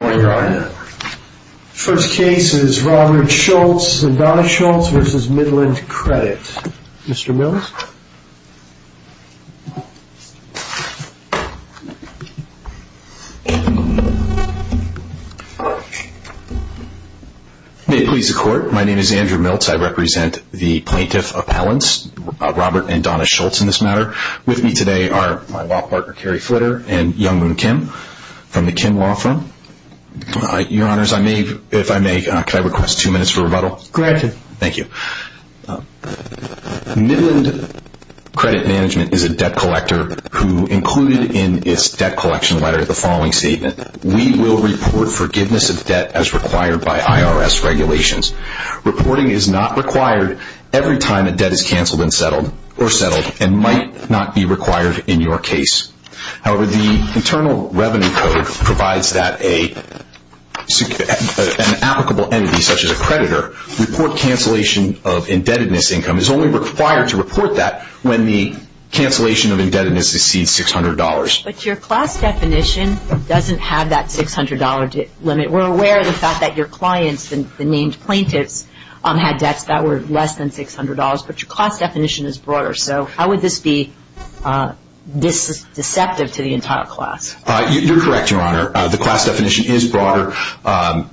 Good morning Your Honor. First case is Robert Schultz and Donna Schultz v. Midland Credit. Mr. Milz. May it please the Court. My name is Andrew Milz. I represent the Plaintiff Appellants, Robert and Donna Schultz in this matter. With me today are my law partner Carrie Flitter and Youngmoon Kim from the Kim Law Firm. Your Honors, if I may, could I request two minutes for rebuttal? Granted. Thank you. Midland Credit Management is a debt collector who included in its debt collection letter the following statement. We will report forgiveness of debt as required by IRS regulations. Reporting is not required every time a debt is canceled or settled and might not be required in your case. However, the Internal Revenue Code provides that an applicable entity, such as a creditor, report cancellation of indebtedness income is only required to report that when the cancellation of indebtedness exceeds $600. But your class definition doesn't have that $600 limit. We're aware of the fact that your clients, the named plaintiffs, had debts that were less than $600, but your class definition is broader. So how would this be deceptive to the entire class? You're correct, Your Honor. The class definition is broader. The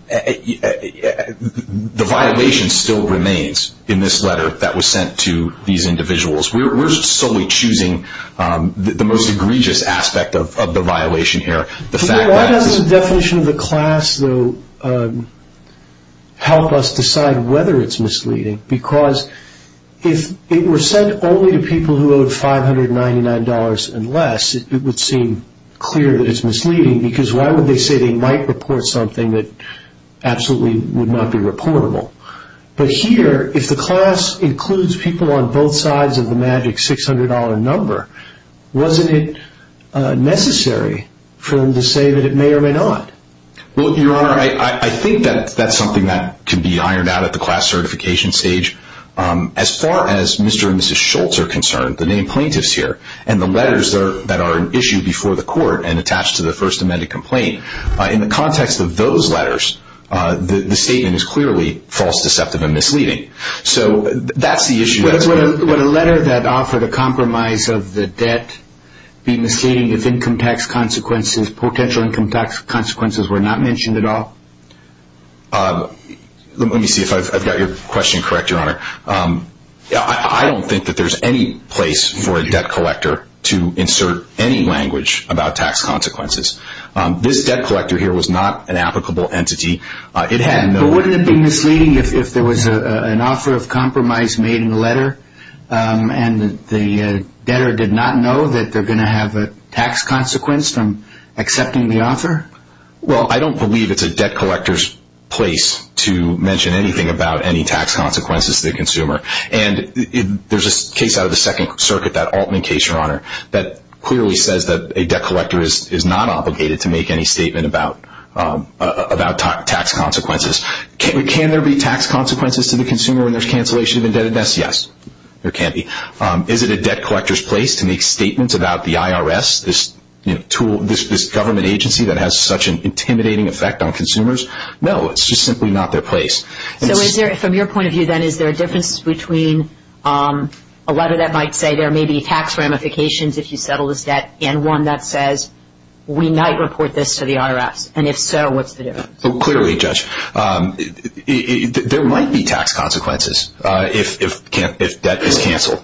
violation still remains in this letter that was sent to these individuals. We're solely choosing the most egregious aspect of the violation here. Why does the definition of the class, though, help us decide whether it's misleading? Because if it were sent only to people who owed $599 and less, it would seem clear that it's misleading, because why would they say they might report something that absolutely would not be reportable? But here, if the class includes people on both sides of the magic $600 number, wasn't it necessary for them to say that it may or may not? Well, Your Honor, I think that's something that can be ironed out at the class certification stage. As far as Mr. and Mrs. Schultz are concerned, the named plaintiffs here, and the letters that are issued before the court and attached to the First Amendment complaint, in the context of those letters, the statement is clearly false, deceptive, and misleading. So that's the issue. Would a letter that offered a compromise of the debt be misleading if income tax consequences, potential income tax consequences, were not mentioned at all? Let me see if I've got your question correct, Your Honor. I don't think that there's any place for a debt collector to insert any language about tax consequences. This debt collector here was not an applicable entity. But wouldn't it be misleading if there was an offer of compromise made in the letter, and the debtor did not know that they're going to have a tax consequence from accepting the offer? Well, I don't believe it's a debt collector's place to mention anything about any tax consequences to the consumer. There's a case out of the Second Circuit, that Altman case, Your Honor, that clearly says that a debt collector is not obligated to make any statement about tax consequences. Can there be tax consequences to the consumer when there's cancellation of indebtedness? Yes, there can be. Is it a debt collector's place to make statements about the IRS, this government agency that has such an intimidating effect on consumers? No, it's just simply not their place. So from your point of view, then, is there a difference between a letter that might say there may be tax ramifications if you settle this debt and one that says we might report this to the IRS? And if so, what's the difference? Clearly, Judge, there might be tax consequences if debt is canceled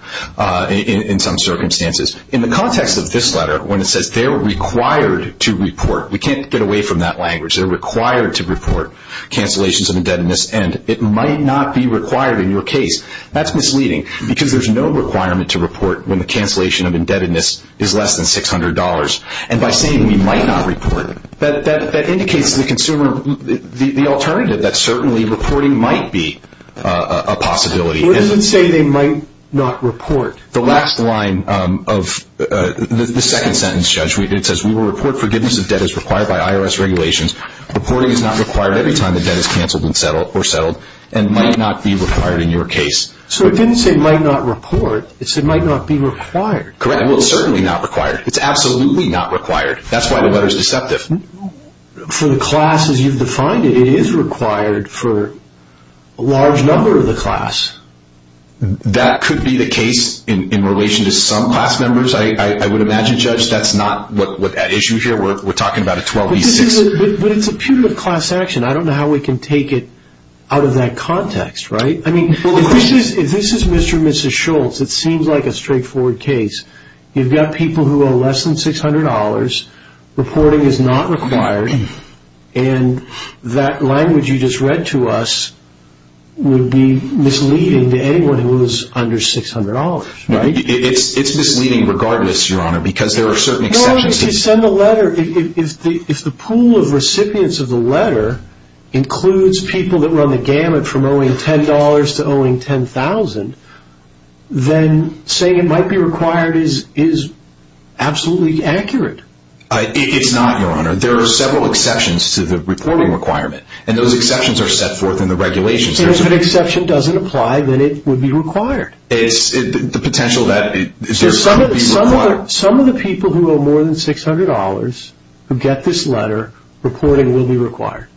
in some circumstances. In the context of this letter, when it says they're required to report, we can't get away from that language. They're required to report cancellations of indebtedness, and it might not be required in your case. That's misleading because there's no requirement to report when the cancellation of indebtedness is less than $600. And by saying we might not report, that indicates to the consumer, the alternative, that certainly reporting might be a possibility. What does it say they might not report? The last line of the second sentence, Judge, it says we will report forgiveness of debt as required by IRS regulations. Reporting is not required every time the debt is canceled or settled and might not be required in your case. So it didn't say might not report, it said might not be required. Correct. Well, it's certainly not required. It's absolutely not required. That's why the letter's deceptive. For the class, as you've defined it, it is required for a large number of the class. That could be the case in relation to some class members, I would imagine, Judge. That's not what that issue here, we're talking about a 12B6. But it's a punitive class action. I don't know how we can take it out of that context, right? I mean, if this is Mr. and Mrs. Schultz, it seems like a straightforward case. You've got people who owe less than $600, reporting is not required, and that language you just read to us would be misleading to anyone who owes under $600, right? It's misleading regardless, Your Honor, because there are certain exceptions. Well, if you send a letter, if the pool of recipients of the letter includes people that were on the gamut from owing $10 to owing $10,000, then saying it might be required is absolutely accurate. It's not, Your Honor. There are several exceptions to the reporting requirement, and those exceptions are set forth in the regulations. And if an exception doesn't apply, then it would be required. It's the potential that it would be required. Some of the people who owe more than $600 who get this letter, reporting will be required.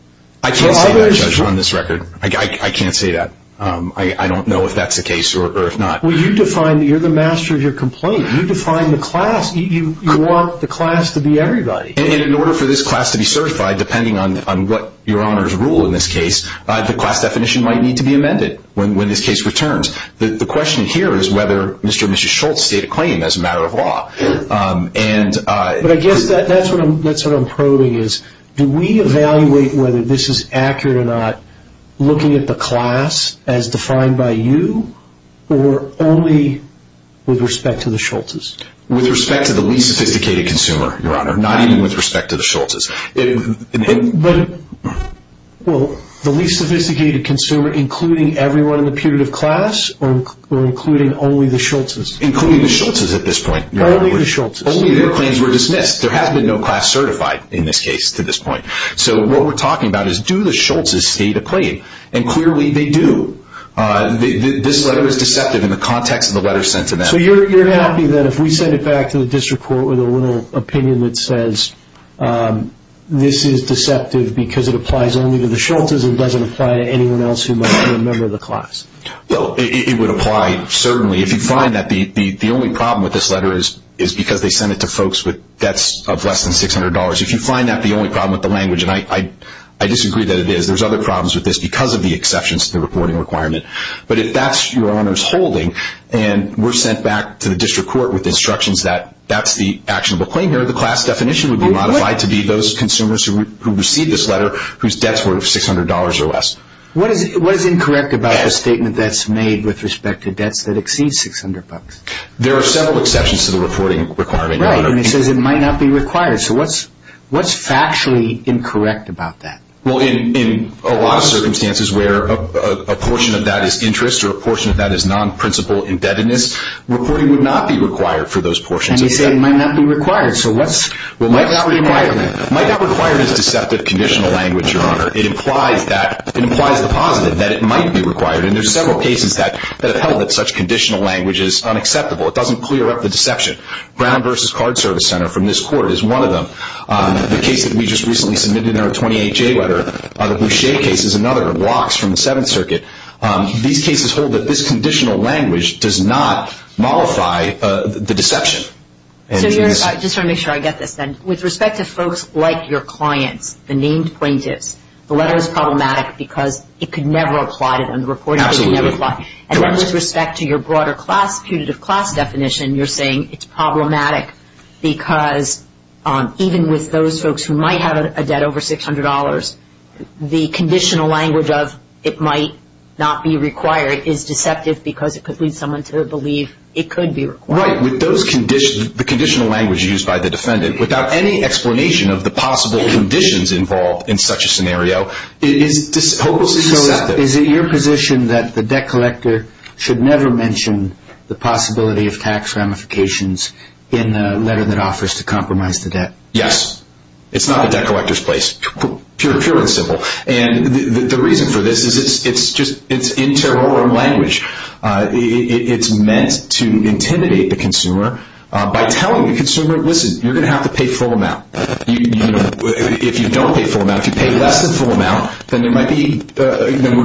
I can't say that, Judge, on this record. I can't say that. I don't know if that's the case or if not. You're the master of your complaint. You define the class. You want the class to be everybody. And in order for this class to be certified, depending on what Your Honor's rule in this case, the class definition might need to be amended when this case returns. The question here is whether Mr. and Mrs. Schultz state a claim as a matter of law. But I guess that's what I'm probing is, do we evaluate whether this is accurate or not looking at the class as defined by you or only with respect to the Schultzes? With respect to the least sophisticated consumer, Your Honor, not even with respect to the Schultzes. But, well, the least sophisticated consumer including everyone in the putative class or including only the Schultzes? Including the Schultzes at this point. Only the Schultzes. Only their claims were dismissed. There has been no class certified in this case to this point. So what we're talking about is, do the Schultzes state a claim? And clearly they do. This letter is deceptive in the context of the letter sent to them. So you're happy that if we send it back to the district court with a little opinion that says, this is deceptive because it applies only to the Schultzes and doesn't apply to anyone else who might be a member of the class? Well, it would apply, certainly. If you find that the only problem with this letter is because they sent it to folks with debts of less than $600. If you find that the only problem with the language, and I disagree that it is, there's other problems with this because of the exceptions to the reporting requirement. But if that's Your Honor's holding and we're sent back to the district court with instructions that that's the actionable claim here, the class definition would be modified to be those consumers who received this letter whose debts were $600 or less. What is incorrect about the statement that's made with respect to debts that exceed $600? There are several exceptions to the reporting requirement, Your Honor. Right, and it says it might not be required. So what's factually incorrect about that? Well, in a lot of circumstances where a portion of that is interest or a portion of that is non-principle indebtedness, reporting would not be required for those portions. And you say it might not be required. So what's required? It might not require this deceptive conditional language, Your Honor. It implies the positive, that it might be required. And there are several cases that have held that such conditional language is unacceptable. It doesn't clear up the deception. Brown v. Card Service Center from this court is one of them. The case that we just recently submitted in our 28-J letter, the Boucher case is another. It blocks from the Seventh Circuit. These cases hold that this conditional language does not mollify the deception. I just want to make sure I get this then. With respect to folks like your clients, the named plaintiffs, the letter is problematic because it could never apply to them. Absolutely. And then with respect to your broader class, putative class definition, you're saying it's problematic because even with those folks who might have a debt over $600, the conditional language of it might not be required is deceptive because it could lead someone to believe it could be required. Right. With the conditional language used by the defendant, without any explanation of the possible conditions involved in such a scenario, it is hopelessly deceptive. So is it your position that the debt collector should never mention the possibility of tax ramifications in the letter that offers to compromise the debt? Yes. It's not the debt collector's place. Pure and simple. And the reason for this is it's interrogant language. It's meant to intimidate the consumer by telling the consumer, listen, you're going to have to pay full amount. If you don't pay full amount, if you pay less than full amount, then we're going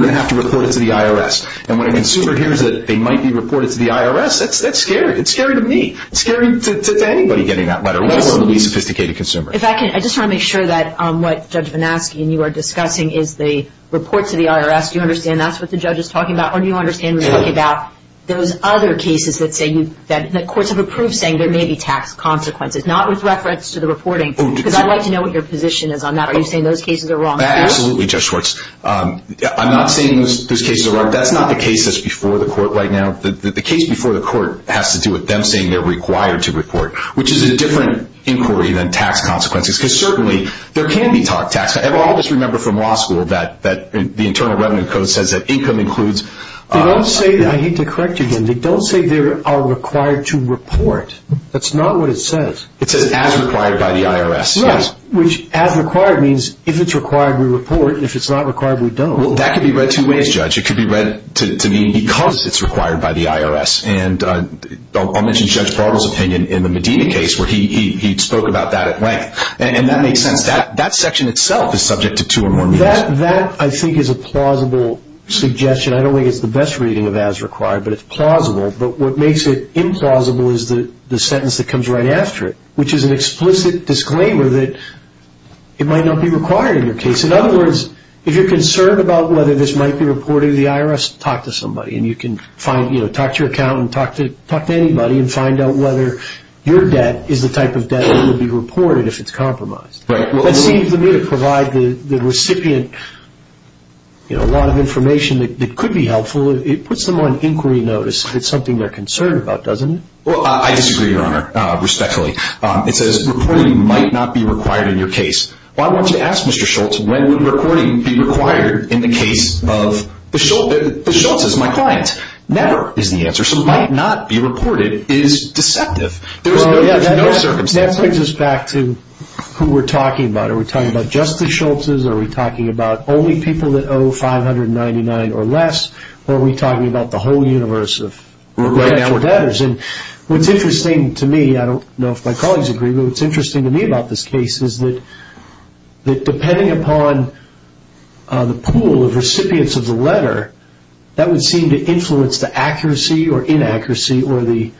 to have to report it to the IRS. And when a consumer hears that they might be reported to the IRS, that's scary. It's scary to me. It's scary to anybody getting that letter, let alone a sophisticated consumer. If I can, I just want to make sure that what Judge Vanaski and you are discussing is the report to the IRS. Do you understand that's what the judge is talking about? Or do you understand when you think about those other cases that courts have approved saying there may be tax consequences, not with reference to the reporting? Because I'd like to know what your position is on that. Are you saying those cases are wrong? Absolutely, Judge Schwartz. I'm not saying those cases are wrong. That's not the case that's before the court right now. The case before the court has to do with them saying they're required to report, which is a different inquiry than tax consequences. Because certainly there can be tax consequences. Well, I'll just remember from law school that the Internal Revenue Code says that income includes... They don't say that. I hate to correct you again. They don't say they are required to report. That's not what it says. It says as required by the IRS. Right, which as required means if it's required, we report. If it's not required, we don't. Well, that could be read two ways, Judge. It could be read to mean because it's required by the IRS. And I'll mention Judge Barber's opinion in the Medina case where he spoke about that at length. And that makes sense. That section itself is subject to two or more meetings. That, I think, is a plausible suggestion. I don't think it's the best reading of as required, but it's plausible. But what makes it implausible is the sentence that comes right after it, which is an explicit disclaimer that it might not be required in your case. In other words, if you're concerned about whether this might be reported to the IRS, talk to somebody. And you can talk to your accountant, talk to anybody, and find out whether your debt is the type of debt that will be reported if it's compromised. That seems to me to provide the recipient a lot of information that could be helpful. It puts them on inquiry notice if it's something they're concerned about, doesn't it? Well, I disagree, Your Honor, respectfully. It says reporting might not be required in your case. Well, I want you to ask Mr. Schultz, when would reporting be required in the case of the Schultz? The Schultz is my client. Never is the answer. So might not be reported is deceptive. There's no circumstance. That brings us back to who we're talking about. Are we talking about just the Schultzes, are we talking about only people that owe $599 or less, or are we talking about the whole universe of debtors? What's interesting to me, I don't know if my colleagues agree, but what's interesting to me about this case is that depending upon the pool of recipients of the letter, that would seem to influence the accuracy or inaccuracy or the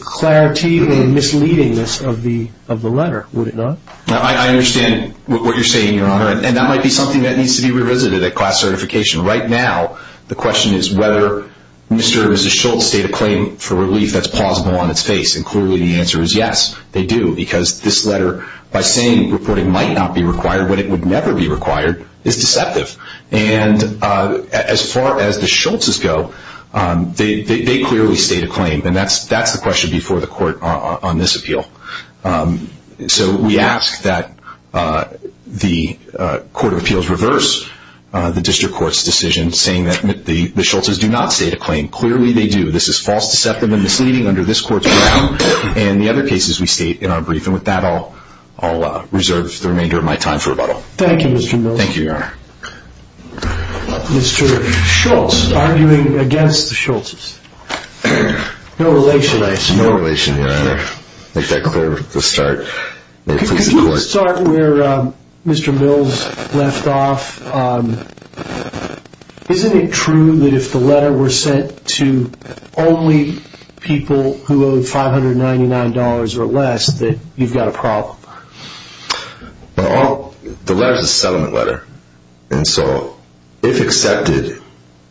clarity or misleadingness of the letter, would it not? I understand what you're saying, Your Honor, and that might be something that needs to be revisited at class certification. Right now the question is whether Mr. and Mrs. Schultz state a claim for relief that's plausible on its face, and clearly the answer is yes, they do, because this letter, by saying reporting might not be required when it would never be required, is deceptive. And as far as the Schultzes go, they clearly state a claim, and that's the question before the court on this appeal. So we ask that the Court of Appeals reverse the district court's decision saying that the Schultzes do not state a claim. Clearly they do. This is false deceptive and misleading under this court's rule, and the other cases we state in our brief, and with that I'll reserve the remainder of my time for rebuttal. Thank you, Mr. Mills. Thank you, Your Honor. Mr. Schultz, arguing against the Schultzes. No relation, I assume. No relation, Your Honor. I'll make that clear at the start. Can you start where Mr. Mills left off? Isn't it true that if the letter were sent to only people who owe $599 or less that you've got a problem? The letter's a settlement letter, and so if accepted,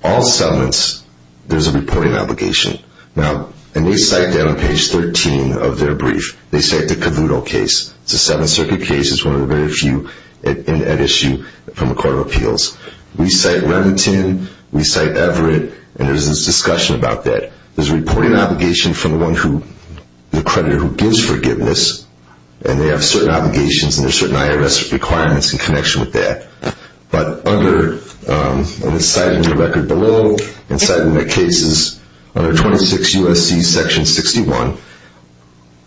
all settlements, there's a reporting obligation. Now, and we cite that on page 13 of their brief. They cite the Cavuto case. It's a Seventh Circuit case. It's one of the very few at issue from the Court of Appeals. We cite Remington, we cite Everett, and there's this discussion about that. There's a reporting obligation from the creditor who gives forgiveness, and they have certain obligations and there's certain IRS requirements in connection with that. But under, and we cite it in the record below, and we cite it in the cases under 26 U.S.C. Section 61,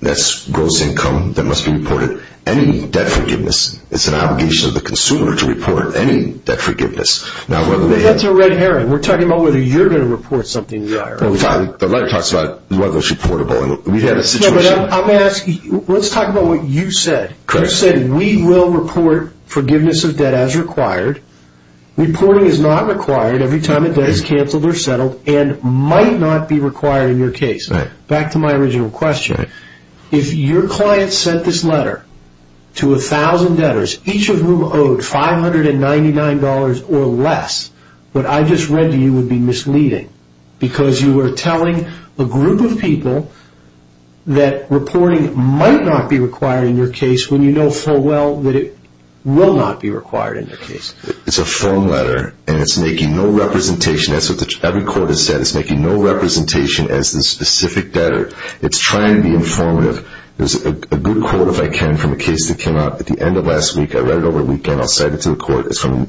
that's gross income that must be reported, any debt forgiveness. It's an obligation of the consumer to report any debt forgiveness. That's a red herring. The letter talks about whether it's reportable, and we've had a situation. Let's talk about what you said. You said, we will report forgiveness of debt as required. Reporting is not required every time a debt is canceled or settled and might not be required in your case. Back to my original question. If your client sent this letter to 1,000 debtors, each of whom owed $599 or less, what I just read to you would be misleading, because you were telling a group of people that reporting might not be required in your case when you know full well that it will not be required in your case. It's a firm letter, and it's making no representation. That's what every court has said. It's making no representation as the specific debtor. It's trying to be informative. There's a good quote, if I can, from a case that came out at the end of last week. I read it over the weekend. I'll cite it to the court. It's from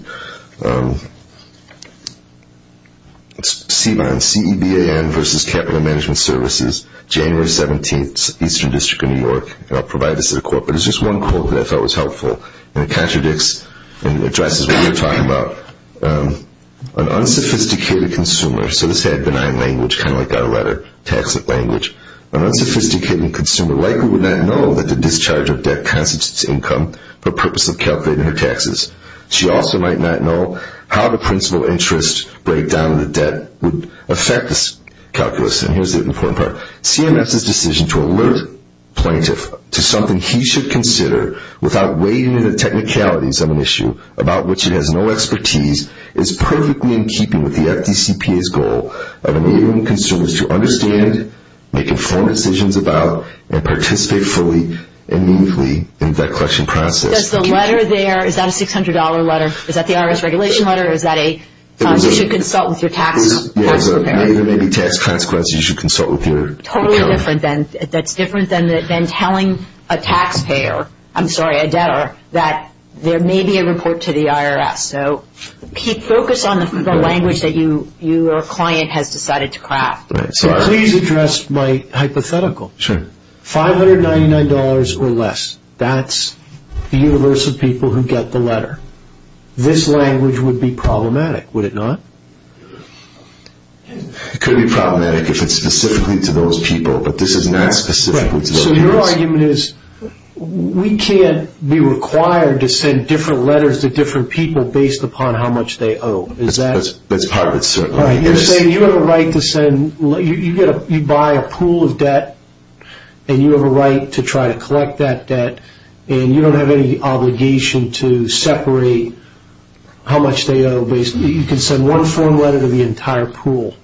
CEBAN, C-E-B-A-N, versus Capital Management Services, January 17, Eastern District of New York. I'll provide this to the court. But it's just one quote that I felt was helpful. It contradicts and addresses what you're talking about. An unsophisticated consumer, so this had benign language, kind of like that letter, tax it language. An unsophisticated consumer likely would not know that the discharge of debt constitutes income for the purpose of calculating her taxes. She also might not know how the principal interest breakdown of the debt would affect this calculus. And here's the important part. CMS's decision to alert plaintiff to something he should consider without wading into the technicalities of an issue about which it has no expertise is perfectly in keeping with the FDCPA's goal of enabling consumers to understand, make informed decisions about, and participate fully and mutely in the debt collection process. Does the letter there, is that a $600 letter? Is that the IRS regulation letter, or is that a you should consult with your taxpayer? There may be tax consequences. You should consult with your accountant. Totally different. That's different than telling a taxpayer, I'm sorry, a debtor, that there may be a report to the IRS. So, Pete, focus on the language that your client has decided to craft. So please address my hypothetical. Sure. $599 or less, that's the universe of people who get the letter. This language would be problematic, would it not? It could be problematic if it's specifically to those people, but this is not specifically to those people. Right. So your argument is we can't be required to send different letters to different people based upon how much they owe. That's part of it, certainly. You're saying you have a right to send, you buy a pool of debt, and you have a right to try to collect that debt, and you don't have any obligation to separate how much they owe. You can send one form letter to the entire pool.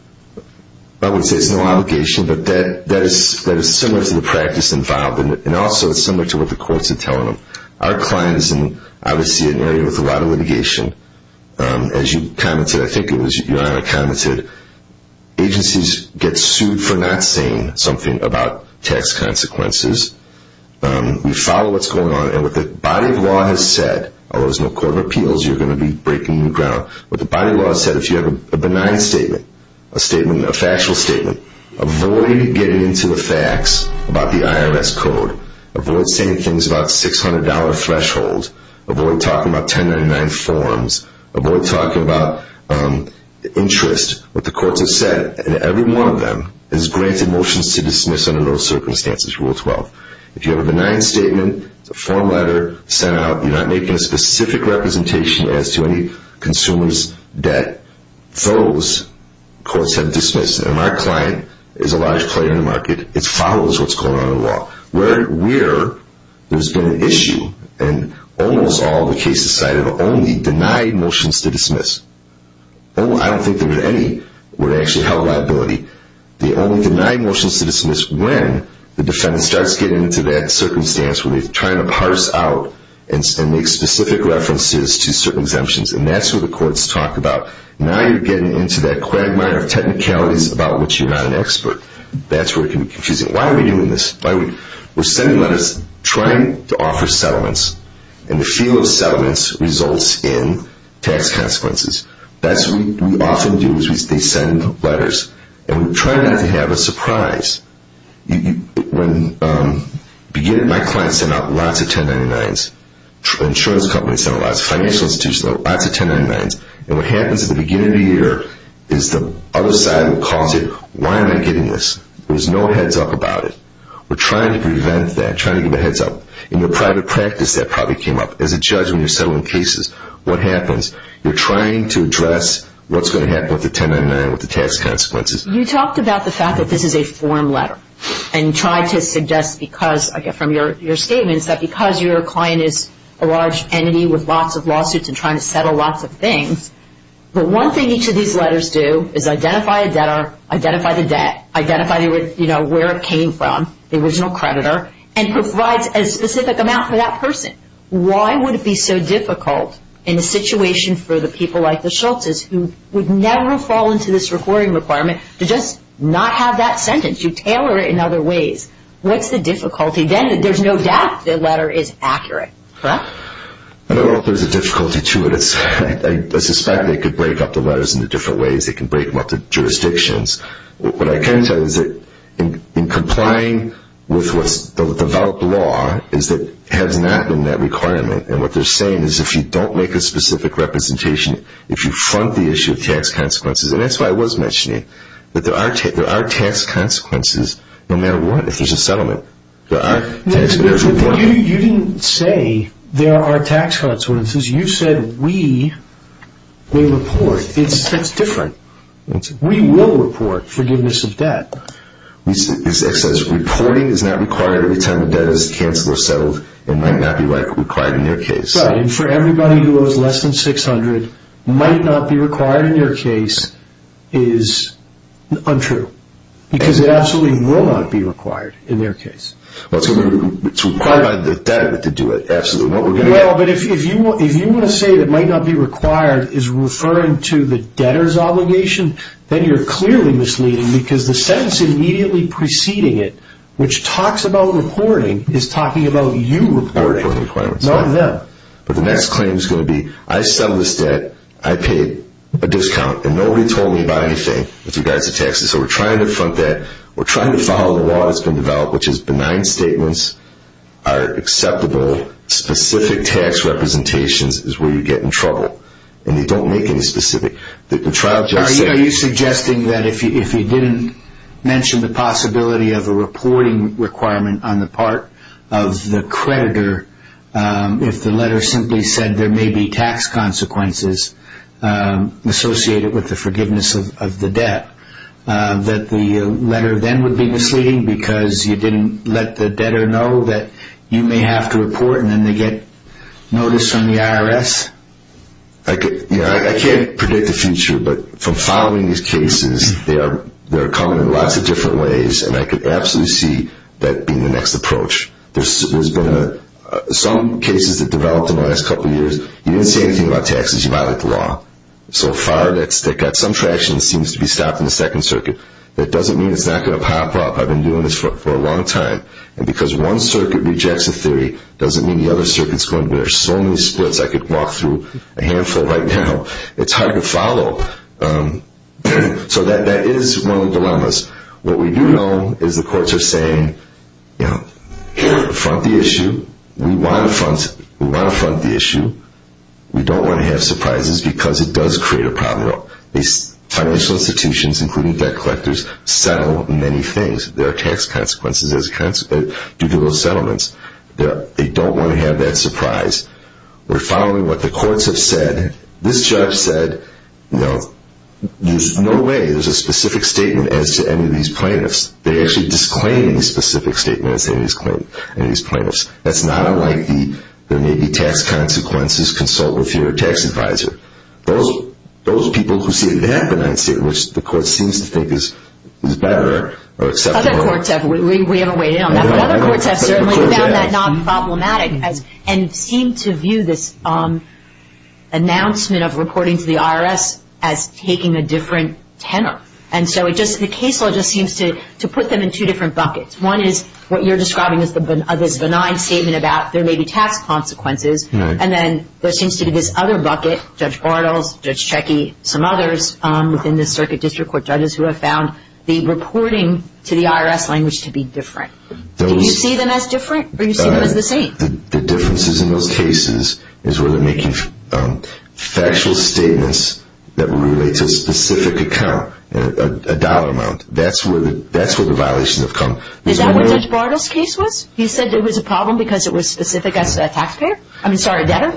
I would say it's no obligation, but that is similar to the practice involved, and also it's similar to what the courts are telling them. Our client is obviously in an area with a lot of litigation. As you commented, I think it was your honor commented, agencies get sued for not saying something about tax consequences. We follow what's going on, and what the body of law has said, although there's no court of appeals, you're going to be breaking new ground. What the body of law has said, if you have a benign statement, a factual statement, avoid getting into the facts about the IRS code. Avoid saying things about $600 thresholds. Avoid talking about 1099 forms. Avoid talking about interest, what the courts have said, and every one of them has granted motions to dismiss under those circumstances, Rule 12. If you have a benign statement, it's a form letter sent out, you're not making a specific representation as to any consumer's debt. Those courts have dismissed, and our client is a large player in the market. It follows what's going on in the law. Where there's been an issue in almost all the cases cited, only denied motions to dismiss. I don't think there were any where they actually held liability. They only denied motions to dismiss when the defendant starts getting into that circumstance where they're trying to parse out and make specific references to certain exemptions, and that's what the courts talk about. Now you're getting into that quagmire of technicalities about which you're not an expert. That's where it can be confusing. Why are we doing this? We're sending letters trying to offer settlements, and the feel of settlements results in tax consequences. That's what we often do is they send letters, and we try not to have a surprise. When my client sent out lots of 1099s, insurance companies sent out lots, financial institutions sent out lots of 1099s, and what happens at the beginning of the year is the other side calls it, Why am I getting this? There's no heads up about it. We're trying to prevent that, trying to give a heads up. In your private practice, that probably came up. As a judge, when you're settling cases, what happens? You're trying to address what's going to happen with the 1099, with the tax consequences. You talked about the fact that this is a form letter, and tried to suggest from your statements that because your client is a large entity with lots of lawsuits and trying to settle lots of things, but one thing each of these letters do is identify a debtor, identify the debt, identify where it came from, the original creditor, and provides a specific amount for that person. Why would it be so difficult in a situation for the people like the Schultzes who would never fall into this reporting requirement to just not have that sentence? You tailor it in other ways. What's the difficulty? Then there's no doubt the letter is accurate, correct? I don't know if there's a difficulty to it. I suspect they could break up the letters into different ways. They can break them up into jurisdictions. What I can tell you is that in complying with what's the developed law, is that it has not been that requirement. And what they're saying is if you don't make a specific representation, if you front the issue of tax consequences, and that's what I was mentioning, that there are tax consequences no matter what if there's a settlement. You didn't say there are tax consequences. You said we may report. That's different. We will report forgiveness of debt. It says reporting is not required every time the debt is canceled or settled and might not be required in their case. Right, and for everybody who owes less than $600, might not be required in their case is untrue because it absolutely will not be required in their case. It's required by the debt to do it. Absolutely. But if you want to say that might not be required is referring to the debtor's obligation, then you're clearly misleading because the sentence immediately preceding it, which talks about reporting, is talking about you reporting. Not them. But the next claim is going to be I settled this debt, I paid a discount, and nobody told me about anything with regards to taxes. So we're trying to front that. We're trying to follow the law that's been developed, which is benign statements are acceptable. Specific tax representations is where you get in trouble. And they don't make any specific. Are you suggesting that if you didn't mention the possibility of a reporting requirement on the part of the creditor if the letter simply said there may be tax consequences associated with the forgiveness of the debt, that the letter then would be misleading because you didn't let the debtor know that you may have to report and then they get notice from the IRS? I can't predict the future, but from following these cases, they're coming in lots of different ways, and I could absolutely see that being the next approach. Some cases that developed in the last couple of years, you didn't say anything about taxes. You violated the law. So far, they've got some traction. It seems to be stopped in the Second Circuit. That doesn't mean it's not going to pop up. I've been doing this for a long time. And because one circuit rejects a theory, it doesn't mean the other circuit is going to do it. There are so many splits I could walk through a handful right now. It's hard to follow. So that is one of the dilemmas. What we do know is the courts are saying, you know, front the issue. We want to front the issue. We don't want to have surprises because it does create a problem. Financial institutions, including debt collectors, settle many things. There are tax consequences due to those settlements. They don't want to have that surprise. We're following what the courts have said. This judge said, you know, there's no way there's a specific statement as to any of these plaintiffs. They actually disclaimed a specific statement as to any of these plaintiffs. That's not unlike the, there may be tax consequences, consult with your tax advisor. Those people who say that benign statement, which the court seems to think is better or acceptable. Other courts have. We haven't weighed in on that. But other courts have certainly found that not problematic and seem to view this announcement of reporting to the IRS as taking a different tenor. And so the case law just seems to put them in two different buckets. One is what you're describing as this benign statement about there may be tax consequences. And then there seems to be this other bucket, Judge Bartels, Judge Checkey, some others within the circuit district court judges who have found the reporting to the IRS language to be different. Do you see them as different or do you see them as the same? The differences in those cases is where they're making factual statements that relate to a specific account, a dollar amount. That's where the violations have come. Is that what Judge Bartels' case was? He said it was a problem because it was specific as a taxpayer? I mean, sorry, debtor?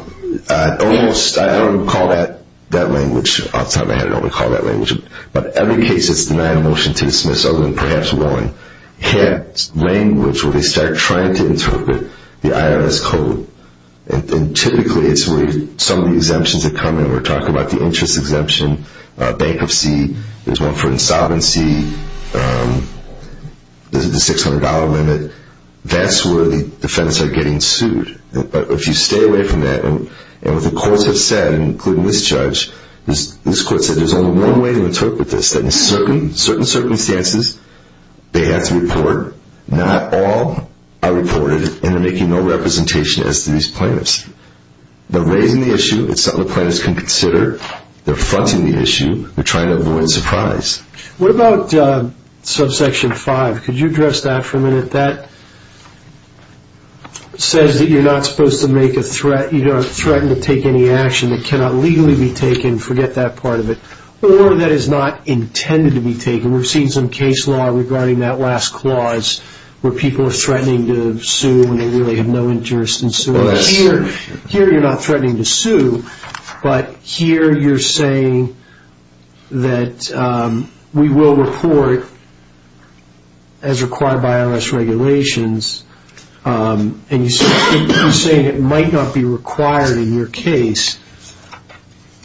Almost. I don't recall that language off the top of my head. I don't recall that language. But every case that's denied a motion to dismiss, other than perhaps one, has language where they start trying to interpret the IRS code. And typically it's where some of the exemptions that come in. We're talking about the interest exemption, bankruptcy. There's one for insolvency, the $600 limit. That's where the defendants are getting sued. But if you stay away from that, and what the courts have said, including this judge, this court said there's only one way to interpret this. That in certain circumstances they have to report not all are reported and they're making no representation as to these plaintiffs. They're raising the issue. It's something the plaintiffs can consider. They're fronting the issue. They're trying to avoid surprise. What about subsection 5? Could you address that for a minute? That says that you're not supposed to make a threat. You don't threaten to take any action that cannot legally be taken. Forget that part of it. Or that is not intended to be taken. We've seen some case law regarding that last clause where people are threatening to sue when they really have no interest in suing. Here you're not threatening to sue, but here you're saying that we will report as required by IRS regulations, and you're saying it might not be required in your case.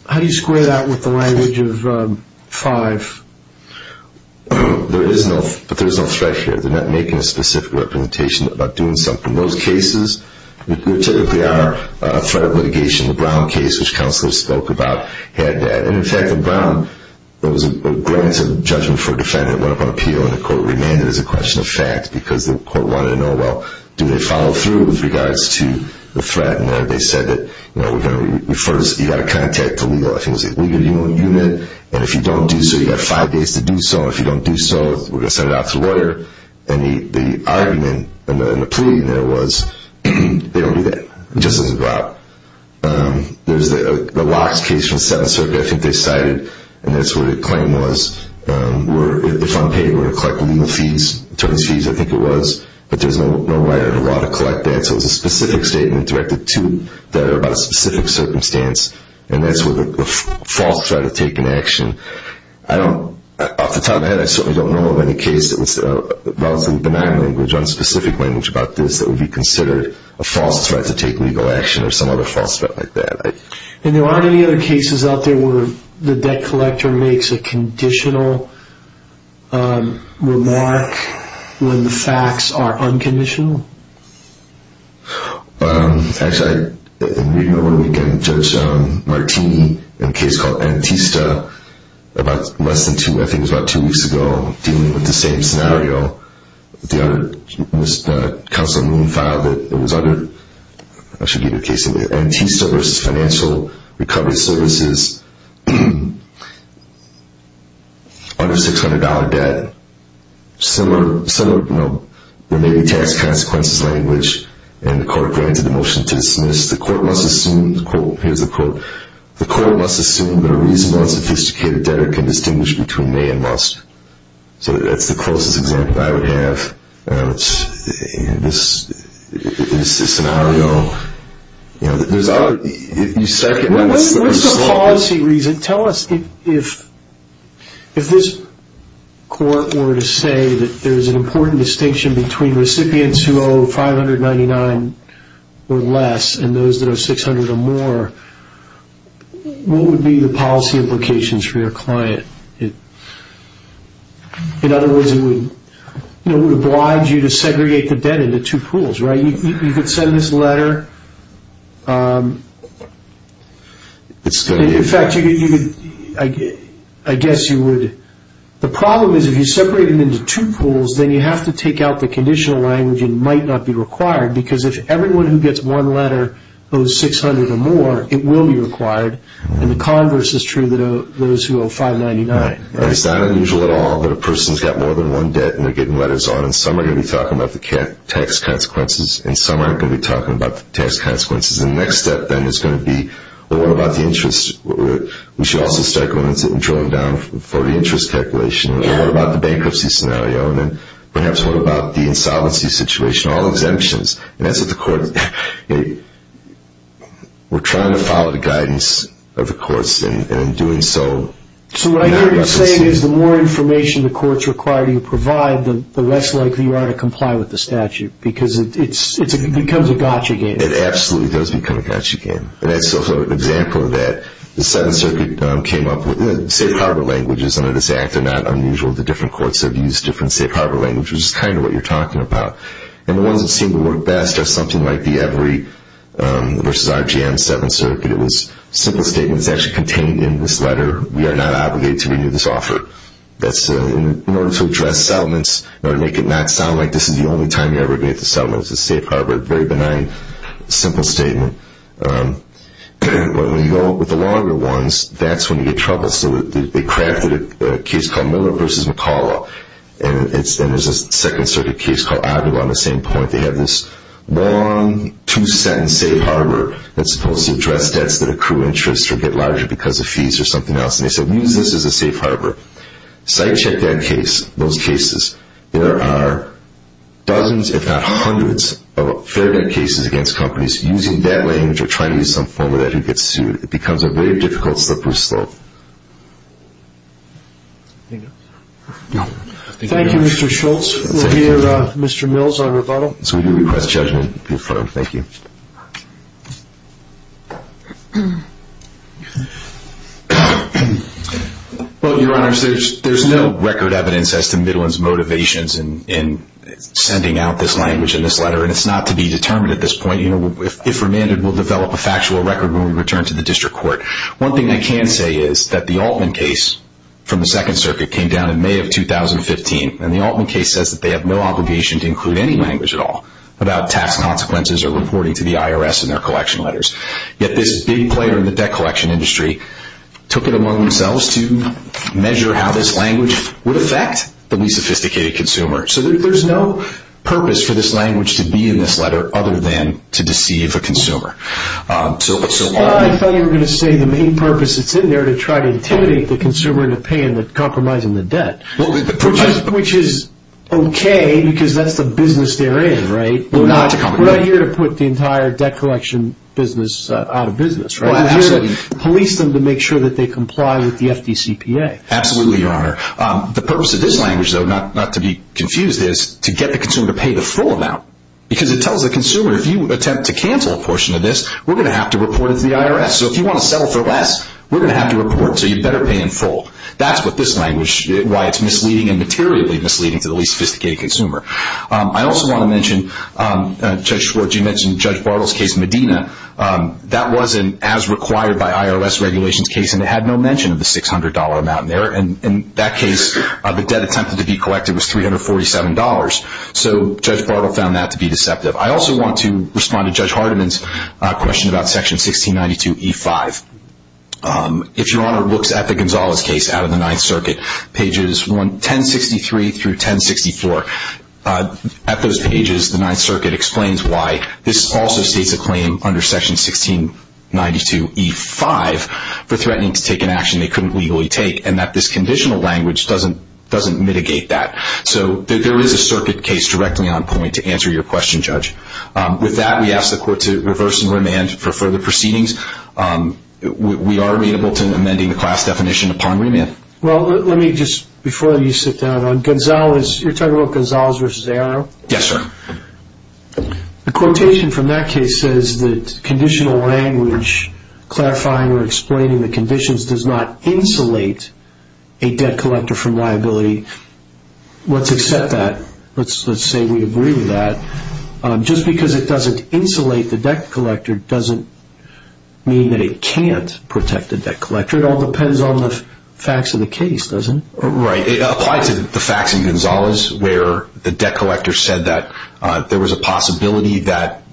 How do you square that with the language of 5? There is no threat here. They're not making a specific representation about doing something. In those cases, there typically are a threat of litigation. The Brown case, which Counselor spoke about, had that. In fact, in Brown, there was a grant of judgment for a defendant. It went up on appeal, and the court remanded as a question of fact because the court wanted to know, well, do they follow through with regards to the threat? They said that you've got to contact the legal unit, and if you don't do so, you've got five days to do so. If you don't do so, we're going to send it out to the lawyer. The argument and the plea there was they don't do that. It just doesn't go out. There's the locks case from Seventh Circuit. I think they cited, and that's what the claim was, where the front page would have collected legal fees. In terms of fees, I think it was, but there's no law to collect that. So it was a specific statement directed to them about a specific circumstance, and that's where the false threat of taking action. Off the top of my head, I certainly don't know of any case that was relatively benign language, unspecific language about this that would be considered a false threat to take legal action or some other false threat like that. And there aren't any other cases out there where the debt collector makes a conditional remark when the facts are unconditional? Actually, in reading over the weekend, Judge Martini, in a case called Antista, about less than two, I think it was about two weeks ago, dealing with the same scenario. The other, Councilman Moon filed it. It was under, I should give you a case of it, Antista versus Financial Recovery Services, under $600 debt. Similar, you know, there may be tax consequences language, and the court granted the motion to dismiss. The court must assume, here's the quote, the court must assume that a reasonable and sophisticated debtor can distinguish between may and must. So that's the closest example I would have. This is a scenario, you know, there's other, if you second that. What's the policy reason? Tell us if this court were to say that there's an important distinction between recipients who owe $599 or less and those that owe $600 or more, what would be the policy implications for your client? In other words, it would oblige you to segregate the debt into two pools, right? You could send this letter. In fact, I guess you would. The problem is if you separate them into two pools, then you have to take out the conditional language, and it might not be required, because if everyone who gets one letter owes $600 or more, it will be required, and the converse is true to those who owe $599. Right. It's not unusual at all that a person's got more than one debt, and they're getting letters on, and some are going to be talking about the tax consequences, and some aren't going to be talking about the tax consequences, and the next step, then, is going to be, well, what about the interest? We should also start drilling down for the interest calculation. What about the bankruptcy scenario? And then perhaps what about the insolvency situation? All exemptions. And that's what the court, you know, we're trying to follow the guidance of the courts in doing so. So what I hear you saying is the more information the courts require you to provide, the less likely you are to comply with the statute, because it becomes a gotcha game. It absolutely does become a gotcha game. And that's also an example of that. The Seventh Circuit came up with safe harbor languages under this Act. They're not unusual. The different courts have used different safe harbor languages, which is kind of what you're talking about. And the ones that seem to work best are something like the Every v. RGM Seventh Circuit. It was a simple statement that's actually contained in this letter. We are not obligated to renew this offer. In order to address settlements, in order to make it not sound like this is the only time you're ever going to get the settlement, it's a safe harbor, a very benign, simple statement. But when you go with the longer ones, that's when you get trouble. So they crafted a case called Miller v. McCalla, and there's a Second Circuit case called Adler on the same point. They have this long, two-sentence safe harbor that's supposed to address debts that accrue interest or get larger because of fees or something else. And they said, use this as a safe harbor. Site check that case, those cases. There are dozens, if not hundreds, of fair debt cases against companies using that language or trying to use some form of that who gets sued. It becomes a very difficult slippery slope. Thank you, Mr. Schultz. We'll hear Mr. Mills on rebuttal. So we do request judgment to be affirmed. Thank you. Well, Your Honors, there's no record evidence as to Midland's motivations in sending out this language in this letter, and it's not to be determined at this point. If remanded, we'll develop a factual record when we return to the district court. One thing I can say is that the Altman case from the Second Circuit came down in May of 2015, and the Altman case says that they have no obligation to include any language at all about tax consequences or reporting to the IRS in their collection letters. Yet this big player in the debt collection industry took it among themselves to measure how this language would affect the least sophisticated consumer. So there's no purpose for this language to be in this letter other than to deceive the consumer. I thought you were going to say the main purpose is in there to try to intimidate the consumer into compromising the debt, which is okay because that's the business they're in, right? We're not here to put the entire debt collection business out of business, right? We're here to police them to make sure that they comply with the FDCPA. Absolutely, Your Honor. The purpose of this language, though, not to be confused, is to get the consumer to pay the full amount because it tells the consumer, if you attempt to cancel a portion of this, we're going to have to report it to the IRS. So if you want to settle for less, we're going to have to report it, so you better pay in full. That's what this language, why it's misleading and materially misleading to the least sophisticated consumer. I also want to mention, Judge Schwartz, you mentioned Judge Bartle's case in Medina. That was an as-required-by-IRS-regulations case, and it had no mention of the $600 amount in there. In that case, the debt attempted to be collected was $347, so Judge Bartle found that to be deceptive. I also want to respond to Judge Hardiman's question about Section 1692E5. If Your Honor looks at the Gonzalez case out of the Ninth Circuit, pages 1063 through 1064, at those pages the Ninth Circuit explains why this also states a claim under Section 1692E5 for threatening to take an action they couldn't legally take, and that this conditional language doesn't mitigate that. So there is a circuit case directly on point to answer your question, Judge. With that, we ask the Court to reverse and remand for further proceedings. We are amenable to amending the class definition upon remand. Well, let me just, before you sit down, on Gonzalez, you're talking about Gonzalez v. ARO? Yes, sir. The quotation from that case says that conditional language clarifying or explaining the conditions does not insulate a debt collector from liability. Let's accept that. Let's say we agree with that. Just because it doesn't insulate the debt collector doesn't mean that it can't protect the debt collector. It all depends on the facts of the case, doesn't it? Right. It applies to the facts in Gonzalez where the debt collector said that there was a possibility that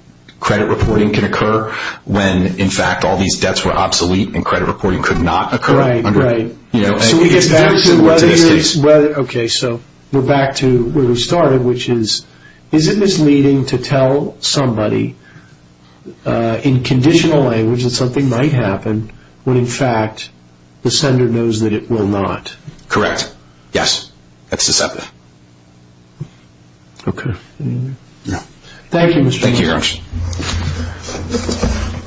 credit reporting could occur when, in fact, all these debts were obsolete and credit reporting could not occur. Right. So we get back to where we started, which is, is it misleading to tell somebody in conditional language that something might happen when, in fact, the sender knows that it will not? Correct. Yes. Let's accept that. Okay. Thank you, Mr. Chairman. Thank you very much.